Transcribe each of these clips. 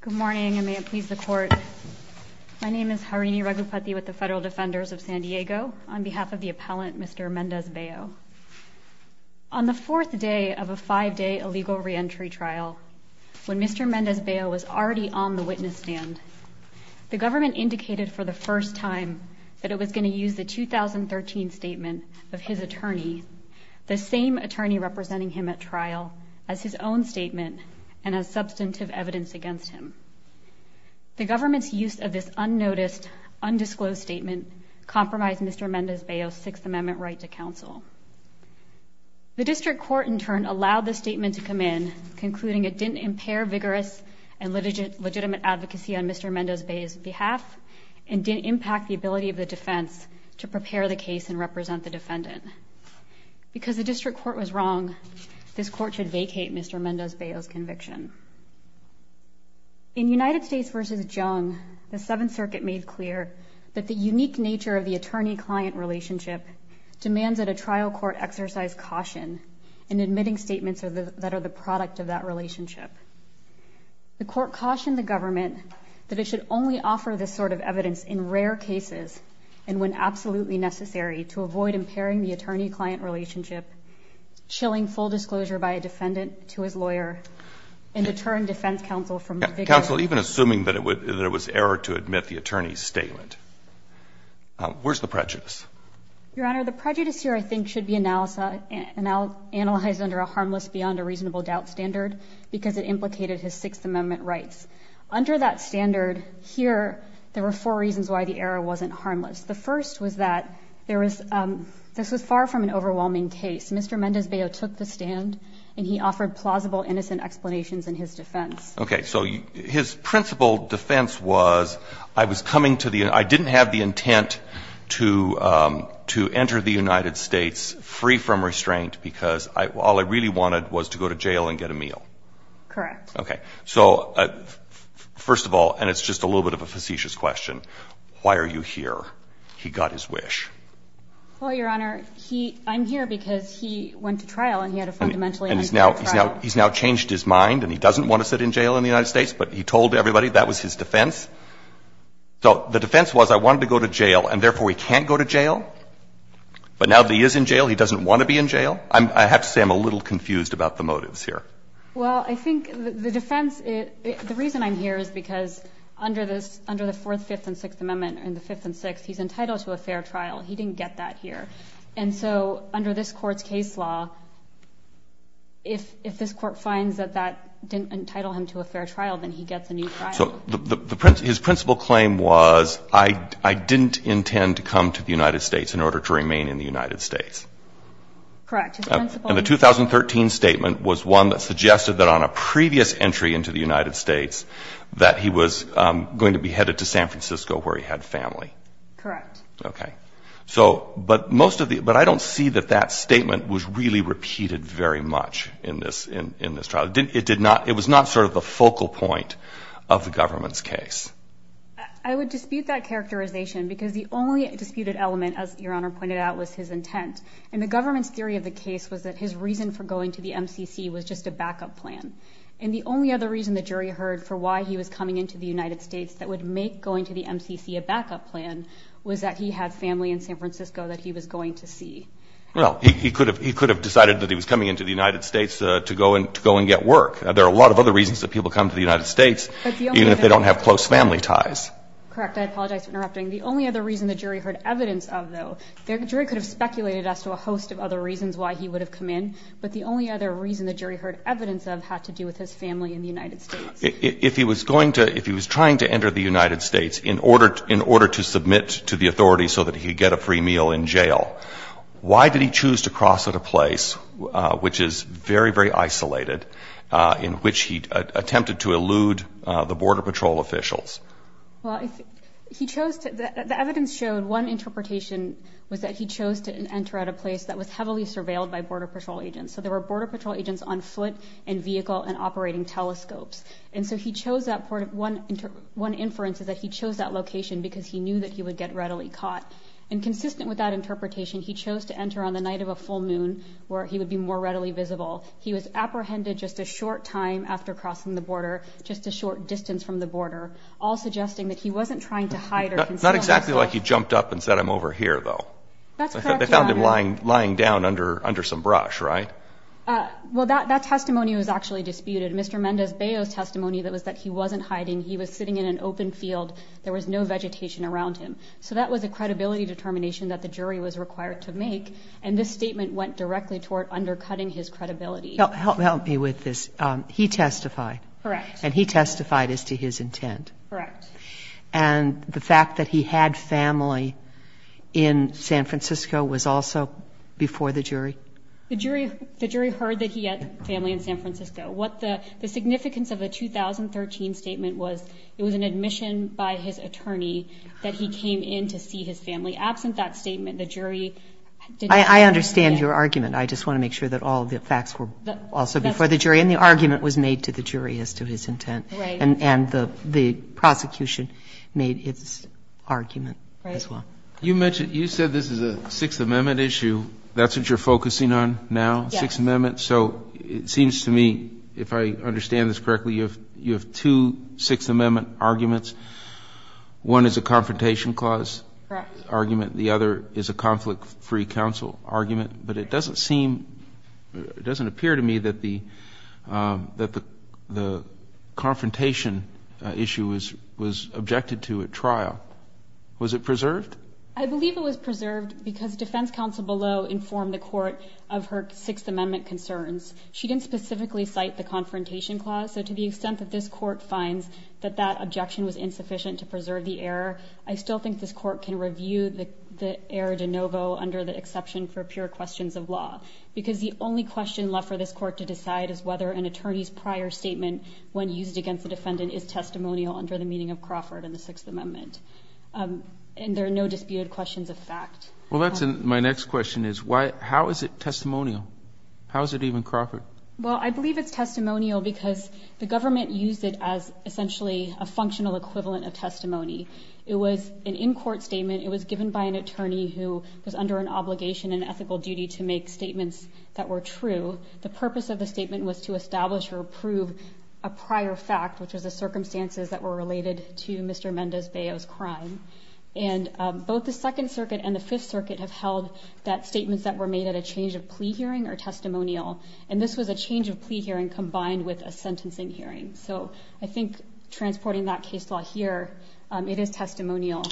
Good morning and may it please the court. My name is Harini Ragupathy with the Federal Defenders of San Diego on behalf of the appellant Mr. Mendez-Bello. On the fourth day of a five-day illegal re-entry trial when Mr. Mendez-Bello was already on the witness stand, the government indicated for the first time that it was going to use the 2013 statement of his attorney, the same attorney representing him at trial, as his own statement and as substantive evidence against him. The government's use of this unnoticed, undisclosed statement compromised Mr. Mendez-Bello's Sixth Amendment right to counsel. The district court in turn allowed the statement to come in concluding it didn't impair vigorous and legitimate advocacy on Mr. Mendez-Bello's behalf and didn't impact the ability of the defense to prepare the case and represent the defendant. Because the district court was wrong, this court should vacate Mr. Mendez-Bello's conviction. In United States v. Jung, the Seventh Circuit made clear that the unique nature of the attorney-client relationship demands that a trial court exercise caution in admitting statements that are the product of that relationship. The court cautioned the government that it should only offer this sort of evidence in rare cases and when absolutely necessary to avoid impairing the attorney-client relationship, chilling full disclosure by a defendant to his lawyer, and to turn defense counsel from vigorous... Counsel, even assuming that it was error to admit the attorney's statement, where's the prejudice? Your Honor, the prejudice here I think should be analyzed under a harmless beyond a reasonable doubt standard because it implicated his Sixth Amendment rights. Under that standard, here, there were four reasons why the error wasn't harmless. The first was that there was... this was far from an overwhelming case. Mr. Mendez-Bello took the stand and he offered plausible innocent explanations in his defense. Okay, so his principal defense was, I was coming to the... I didn't have the intent to enter the United States free from restraint because all I really wanted was to go to jail and get a meal. Correct. Okay, so first of all, and it's just a little bit of a facetious question, why are you here? He got his wish. Well, Your Honor, he... I'm here because he went to trial and he had a fundamentally unjust trial. And he's now changed his mind and he doesn't want to sit in jail in the United States, but he told everybody that was his defense. So the defense was, I wanted to go to jail and therefore he can't go to jail, but now that he is in jail, he doesn't want to be in jail. I have to say I'm a little confused about the motives here. Well, I think the defense, the reason I'm here is because under this, under the Fourth, Fifth, and Sixth Amendment, in the Fifth and Sixth, he's entitled to a fair trial. He didn't get that here. And so under this Court's case law, if this Court finds that that didn't entitle him to a fair trial, then he gets a new trial. So his principal claim was, I didn't intend to come to the United States in order to remain in the So the defense suggested that on a previous entry into the United States that he was going to be headed to San Francisco where he had family. Correct. Okay. So, but most of the, but I don't see that that statement was really repeated very much in this, in this trial. It did not, it was not sort of the focal point of the government's case. I would dispute that characterization because the only disputed element, as Your Honor pointed out, was his intent. And the government's theory of the case was that his reason for going to the MCC was just a backup plan. And the only other reason the jury heard for why he was coming into the United States that would make going to the MCC a backup plan was that he had family in San Francisco that he was going to see. Well, he could have, he could have decided that he was coming into the United States to go and, to go and get work. There are a lot of other reasons that people come to the United States, even if they don't have close family ties. Correct. I apologize for interrupting. The only other reason the jury heard evidence of, though, the jury could have speculated as to a host of other reasons why he would have come in, but the only other reason the jury heard evidence of had to do with his family in the United States. If he was going to, if he was trying to enter the United States in order, in order to submit to the authorities so that he could get a free meal in jail, why did he choose to cross at a place, which is very, very isolated, in which he attempted to elude the Border Patrol officials? Well, if he chose to, the evidence showed one interpretation was that he chose to enter at a place that was heavily surveilled by Border Patrol agents. So there were Border Patrol agents on foot and vehicle and operating telescopes. And so he chose that part of one, one inference is that he chose that location because he knew that he would get readily caught. And consistent with that interpretation, he chose to enter on the night of a full moon where he would be more readily visible. He was apprehended just a short time after crossing the border, just a short distance from the border, all suggesting that he wasn't trying to hide or conceal himself. Not exactly like he jumped up and said, I'm over here, though. That's correct, Your Honor. He was probably lying, lying down under, under some brush, right? Well, that, that testimony was actually disputed. Mr. Mendez-Beo's testimony that was that he wasn't hiding, he was sitting in an open field, there was no vegetation around him. So that was a credibility determination that the jury was required to make. And this statement went directly toward undercutting his credibility. Help, help me with this. He testified. Correct. And he testified as to his intent. Correct. And the fact that he had family in San Francisco was also before the jury? The jury, the jury heard that he had family in San Francisco. What the, the significance of a 2013 statement was, it was an admission by his attorney that he came in to see his family. Absent that statement, the jury did not. I, I understand your argument. I just want to make sure that all the facts were also before the jury. And the argument was made to the jury as to his intent. Right. And, and the, the prosecution made its argument as well. Right. You mentioned, you said this is a Sixth Amendment issue. That's what you're focusing on now? Yes. Sixth Amendment. So it seems to me, if I understand this correctly, you have, you have two Sixth Amendment arguments. One is a Confrontation Clause argument, the other is a Conflict-Free Council argument. But it doesn't seem, it doesn't appear to me that the, that the, the confrontation issue was, was objected to at trial. Was it preserved? I believe it was preserved because defense counsel below informed the court of her Sixth Amendment concerns. She didn't specifically cite the Confrontation Clause. So to the extent that this court finds that that objection was insufficient to preserve the error, I of law. Because the only question left for this court to decide is whether an attorney's prior statement when used against the defendant is testimonial under the meaning of Crawford and the Sixth Amendment. And there are no disputed questions of fact. Well, that's my next question is why, how is it testimonial? How is it even Crawford? Well, I believe it's testimonial because the government used it as essentially a functional equivalent of testimony. It was an in-court statement. It was given by an attorney who was under an obligation and ethical duty to make statements that were true. The purpose of the statement was to establish or prove a prior fact, which was the circumstances that were related to Mr. Mendez-Beo's crime. And both the Second Circuit and the Fifth Circuit have held that statements that were made at a change of plea hearing are testimonial. And this was a change of plea hearing combined with a sentencing hearing. So I think transporting that case law here, it is testimonial.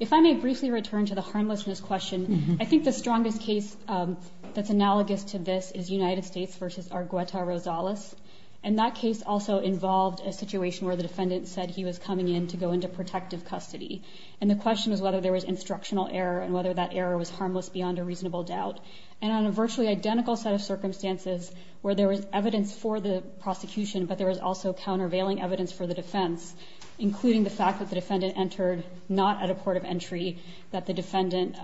If I may briefly return to the harmlessness question, I think the strongest case that's analogous to this is United States versus Argueta Rosales. And that case also involved a situation where the defendant said he was coming in to go into protective custody. And the question is whether there was instructional error and whether that error was harmless beyond a reasonable doubt. And on a virtually identical set of circumstances where there was evidence for the prosecution, but there was also countervailing evidence for the defense, including the fact that the defendant entered not at a port of entry, that the defendant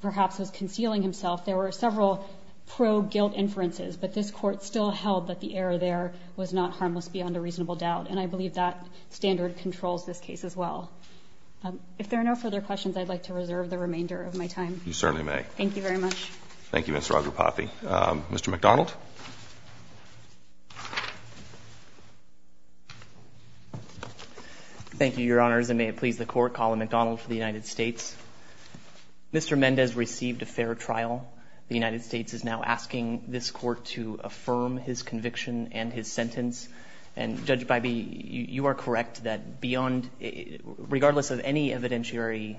perhaps was concealing himself, there were several pro-guilt inferences. But this Court still held that the error there was not harmless beyond a reasonable doubt. And I believe that standard controls this case as well. If there are no further questions, I'd like to reserve the remainder of my time. You certainly may. Thank you very much. Thank you, Ms. Rajapathi. Mr. McDonald? Thank you, Your Honors. And may it please the Court, Colin McDonald for the United States. Mr. Mendez received a fair trial. The United States is now asking this Court to affirm his conviction and his sentence. And, Judge Bybee, you are correct that beyond, regardless of any evidentiary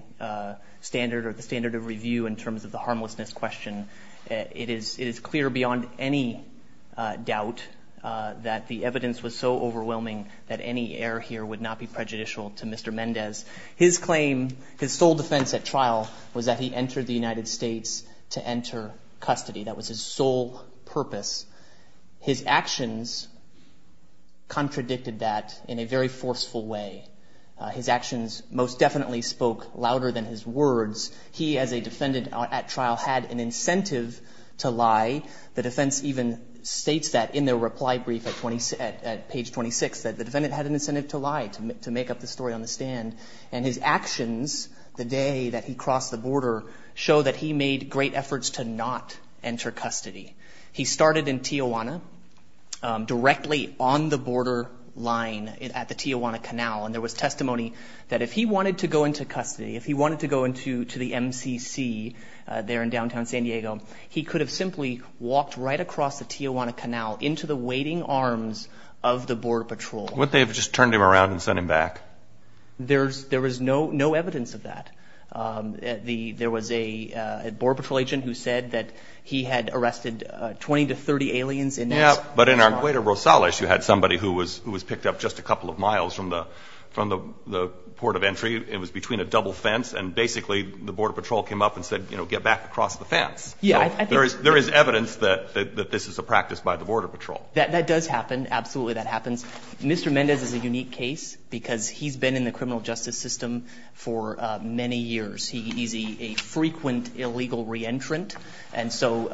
standard or the standard of review in terms of the harmlessness question, it is clear beyond any doubt that the evidence was so overwhelming that any error here would not be prejudicial to Mr. Mendez. His claim, his sole defense at trial, was that he entered the United States to enter custody. That was his sole purpose. His actions contradicted that in a very forceful way. His actions most definitely spoke louder than his words. He, as a defendant at trial, had an incentive to lie. The defense even states that in their reply brief at page 26, that the defendant had an incentive to lie, to make up the story on the stand. And his actions the day that he crossed the border show that he made great efforts to not enter custody. He started in Tijuana, directly on the border line at the Tijuana Canal. And there was testimony that if he wanted to go into custody, if he wanted to go into the MCC there in downtown San Diego, he could have simply walked right across the Tijuana Canal into the waiting arms of the Border Patrol. Would they have just turned him around and sent him back? There was no evidence of that. There was a Border Patrol agent who said that he had arrested 20 to 30 aliens in that spot. But in Argueta Rosales, you had somebody who was picked up just a couple of miles from the port of entry. It was between a double fence. And basically, the Border Patrol came up and said, you know, get back across the fence. There is evidence that this is a practice by the Border Patrol. That does happen. Absolutely, that happens. Mr. Mendez is a unique case because he's been in the criminal justice system for many years. He's a frequent illegal re-entrant. And so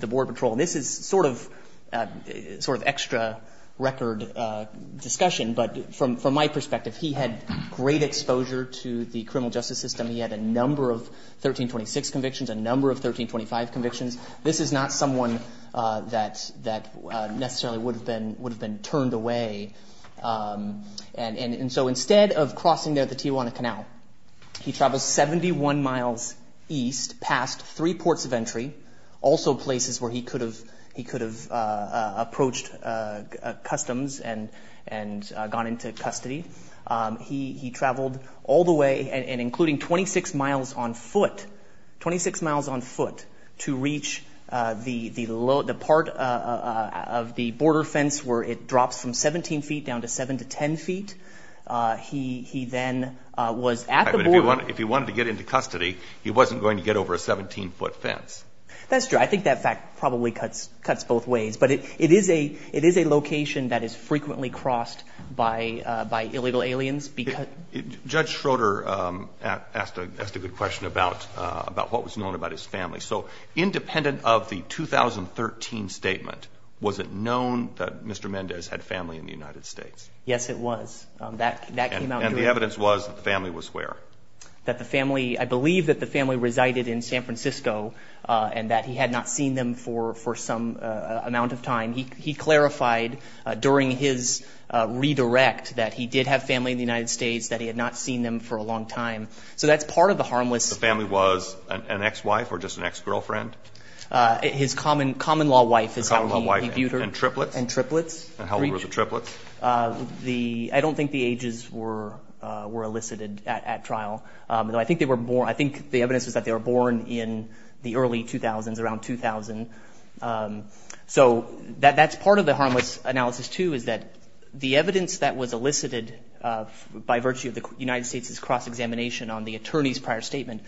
the Border Patrol, this is sort of extra record discussion, but from my perspective, he had great exposure to the criminal justice system. He had a number of 1326 convictions, a number of 1325 convictions. This is not someone that necessarily would have been turned away. And so instead of crossing the Tijuana Canal, he travels 71 miles east past three ports of entry, also places where he could have approached customs and gone into custody. He traveled all the way and including 26 miles on foot, 26 miles on foot to reach the part of the border fence where it drops from 17 feet down to 7 to 10 feet. He then was at the border. If he wanted to get into custody, he wasn't going to get over a 17-foot fence. That's true. I think that fact probably cuts both ways. But it is a location that is frequently crossed by illegal aliens. Judge Schroeder asked a good question about what was known about his family. So independent of the 2013 statement, was it known that Mr. Mendez had family in the United States? Yes, it was. That came out during the... The evidence was that the family was where? That the family, I believe that the family resided in San Francisco and that he had not seen them for some amount of time. He clarified during his redirect that he did have family in the United States, that he had not seen them for a long time. So that's part of the harmless... The family was an ex-wife or just an ex-girlfriend? His common-law wife is how he viewed her. And triplets? And triplets. And how old were the triplets? I don't think the ages were elicited at trial. I think the evidence was that they were born in the early 2000s, around 2000. So that's part of the harmless analysis too, is that the evidence that was elicited by virtue of the United States' cross-examination on the attorney's prior statement,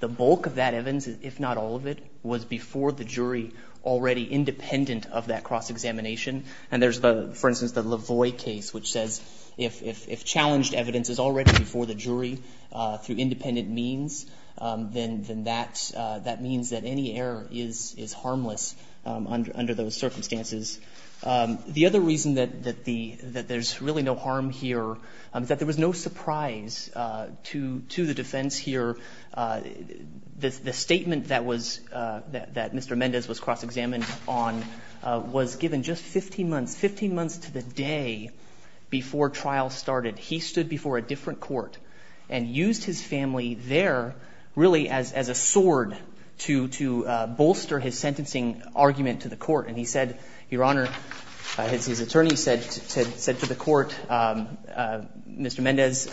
the bulk of that evidence, if not all of it, was before the jury already independent of that cross-examination. And there's, for instance, the Lavoie case which says if challenged evidence is already before the jury through independent means, then that means that any error is harmless under those circumstances. The other reason that there's really no harm here is that there was no surprise to the defense here. The statement that Mr. Mendez was cross-examined on was given just 15 months, 15 months to the day before trial started. He stood before a different court and used his family there really as a sword to bolster his sentencing argument to the court. And he said, Your Honor, his attorney said to the court, Mr. Mendez,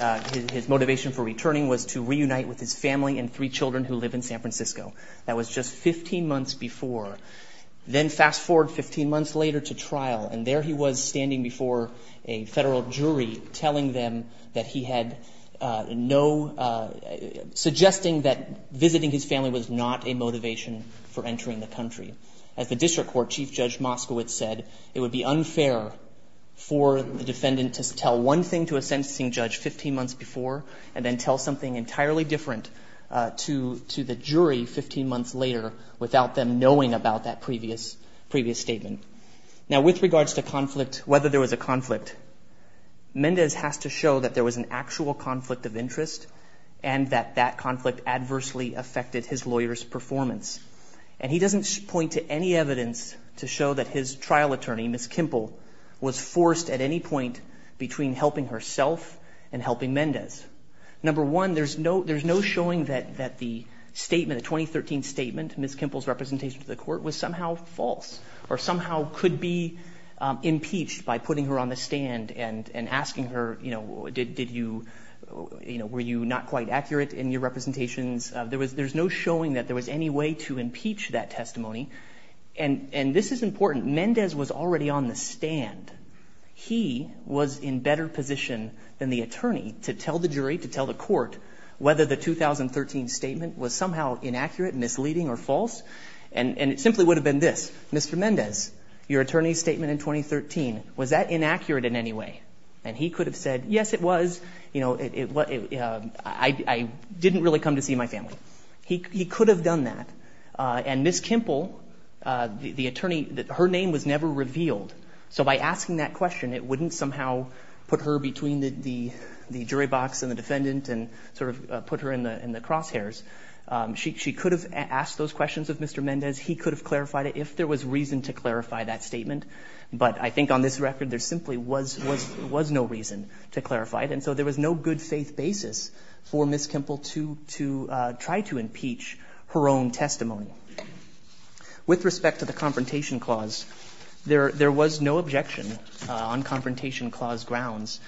his motivation for reunite with his family and three children who live in San Francisco. That was just 15 months before. Then fast forward 15 months later to trial, and there he was standing before a federal jury telling them that he had no, suggesting that visiting his family was not a motivation for entering the country. As the district court, Chief Judge Moskowitz said, it would be unfair for the defendant to tell one thing to a sentencing judge 15 months before and then tell something entirely different to the jury 15 months later without them knowing about that previous statement. Now with regards to conflict, whether there was a conflict, Mendez has to show that there was an actual conflict of interest and that that conflict adversely affected his lawyer's performance. And he doesn't point to any evidence to show that his trial attorney, Ms. Kimple, was forced at any point between helping herself and helping Mendez. Number one, there's no showing that the statement, the 2013 statement, Ms. Kimple's representation to the court was somehow false or somehow could be impeached by putting her on the stand and asking her, you know, were you not quite accurate in your representations? There's no showing that there was any way to impeach that testimony. And this is important. Mendez was already on the stand. He was in better position than the attorney to tell the jury, to tell the court, whether the 2013 statement was somehow inaccurate, misleading, or false. And it simply would have been this, Mr. Mendez, your attorney's statement in 2013, was that inaccurate in any way? And he could have said, yes, it was. You know, I didn't really come to see my family. He could have done that. And Ms. Kimple, the attorney, her name was never revealed. So by asking that question, it wouldn't somehow put her between the jury box and the defendant and sort of put her in the crosshairs. She could have asked those questions of Mr. Mendez. He could have clarified it if there was reason to clarify that statement. But I think on this record, there simply was no reason to clarify it. And so there was no good faith basis for Ms. Kimple to try to impeach her own testimony. With respect to the Confrontation Clause, there was no objection on Confrontation Clause grounds.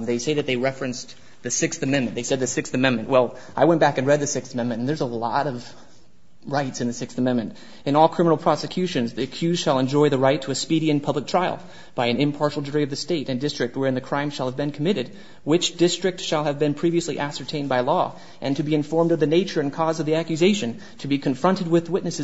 They say that they referenced the Sixth Amendment. They said the Sixth Amendment. Well, I went back and read the Sixth Amendment, and there's a lot of rights in the Sixth Amendment. In all criminal prosecutions, the accused shall enjoy the right to a speedy and public trial by an impartial jury of the State and district wherein the crime shall have been committed, which district shall have been previously ascertained by law, and to be witnesses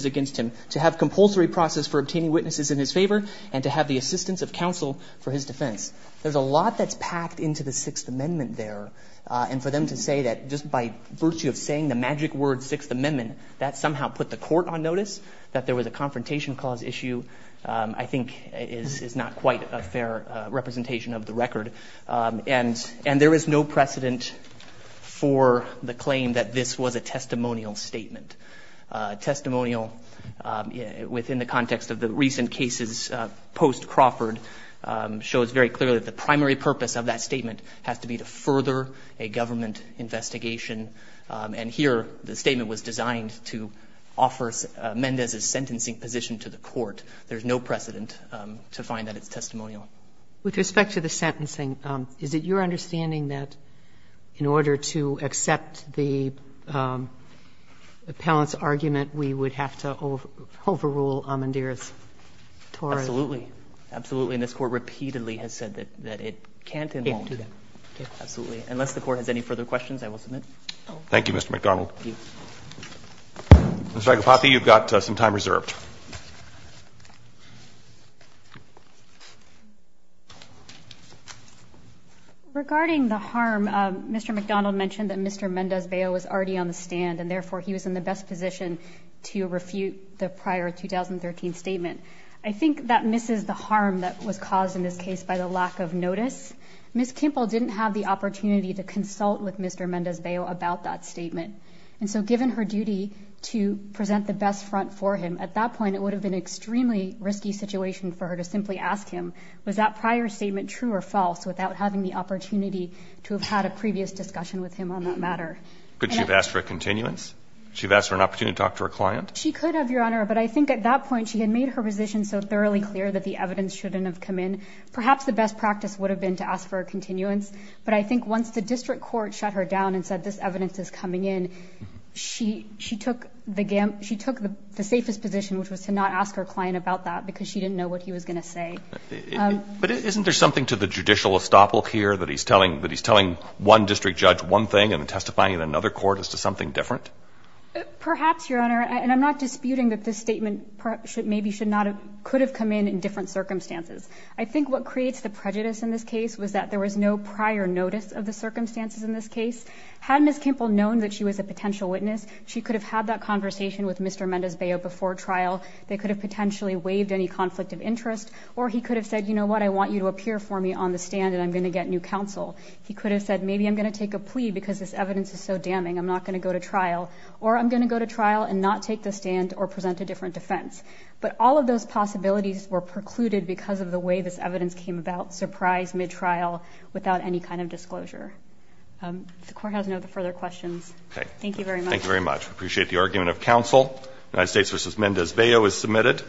against him, to have compulsory process for obtaining witnesses in his favor, and to have the assistance of counsel for his defense. There's a lot that's packed into the Sixth Amendment there. And for them to say that just by virtue of saying the magic word Sixth Amendment, that somehow put the court on notice that there was a Confrontation Clause issue, I think is not quite a fair representation of the record. And there is no precedent for the claim that this was a testimonial statement. Testimonial within the context of the recent cases post-Crawford shows very clearly that the primary purpose of that statement has to be to further a government investigation. And here the statement was designed to offer Mendez's sentencing position to the court. There's no precedent to find that it's testimonial. With respect to the sentencing, is it your understanding that in order to accept the appellant's argument, we would have to overrule Amendera's torus? Absolutely. Absolutely. And this Court repeatedly has said that it can't and won't. Absolutely. Unless the Court has any further questions, I will submit. Thank you, Mr. McDonald. Thank you. Mr. Agilpathy, you've got some time reserved. Thank you. Regarding the harm, Mr. McDonald mentioned that Mr. Mendez-Beyo was already on the stand and therefore he was in the best position to refute the prior 2013 statement. I think that misses the harm that was caused in this case by the lack of notice. Ms. Kimple didn't have the opportunity to consult with Mr. Mendez-Beyo about that statement. And so given her duty to present the best front for him, at that point, it would have been an extremely risky situation for her to simply ask him, was that prior statement true or false, without having the opportunity to have had a previous discussion with him on that matter? Could she have asked for a continuance? Could she have asked for an opportunity to talk to her client? She could have, Your Honor, but I think at that point, she had made her position so thoroughly clear that the evidence shouldn't have come in. Perhaps the best practice would have been to ask for a continuance, but I think once the district court shut her down and said this evidence is coming in, she took the safest position, which was to not ask her client about that, because she didn't know what he was going to say. But isn't there something to the judicial estoppel here, that he's telling one district judge one thing and then testifying in another court as to something different? Perhaps, Your Honor. And I'm not disputing that this statement maybe could have come in in different circumstances. I think what creates the prejudice in this case was that there was no prior notice of the circumstances in this case. Had Ms. Kimple known that she was a potential witness, she could have had that conversation with Mr. Mendez-Beyo before trial. They could have potentially waived any conflict of interest, or he could have said, you know what, I want you to appear for me on the stand and I'm going to get new counsel. He could have said, maybe I'm going to take a plea because this evidence is so damning, I'm not going to go to trial, or I'm going to go to trial and not take the stand or present a different defense. But all of those possibilities were precluded because of the way this evidence came about, surprise, mid-trial, without any kind of disclosure. If the Court has no further questions. Thank you very much. Thank you very much. We appreciate the argument of counsel. United States v. Mendez-Beyo is submitted.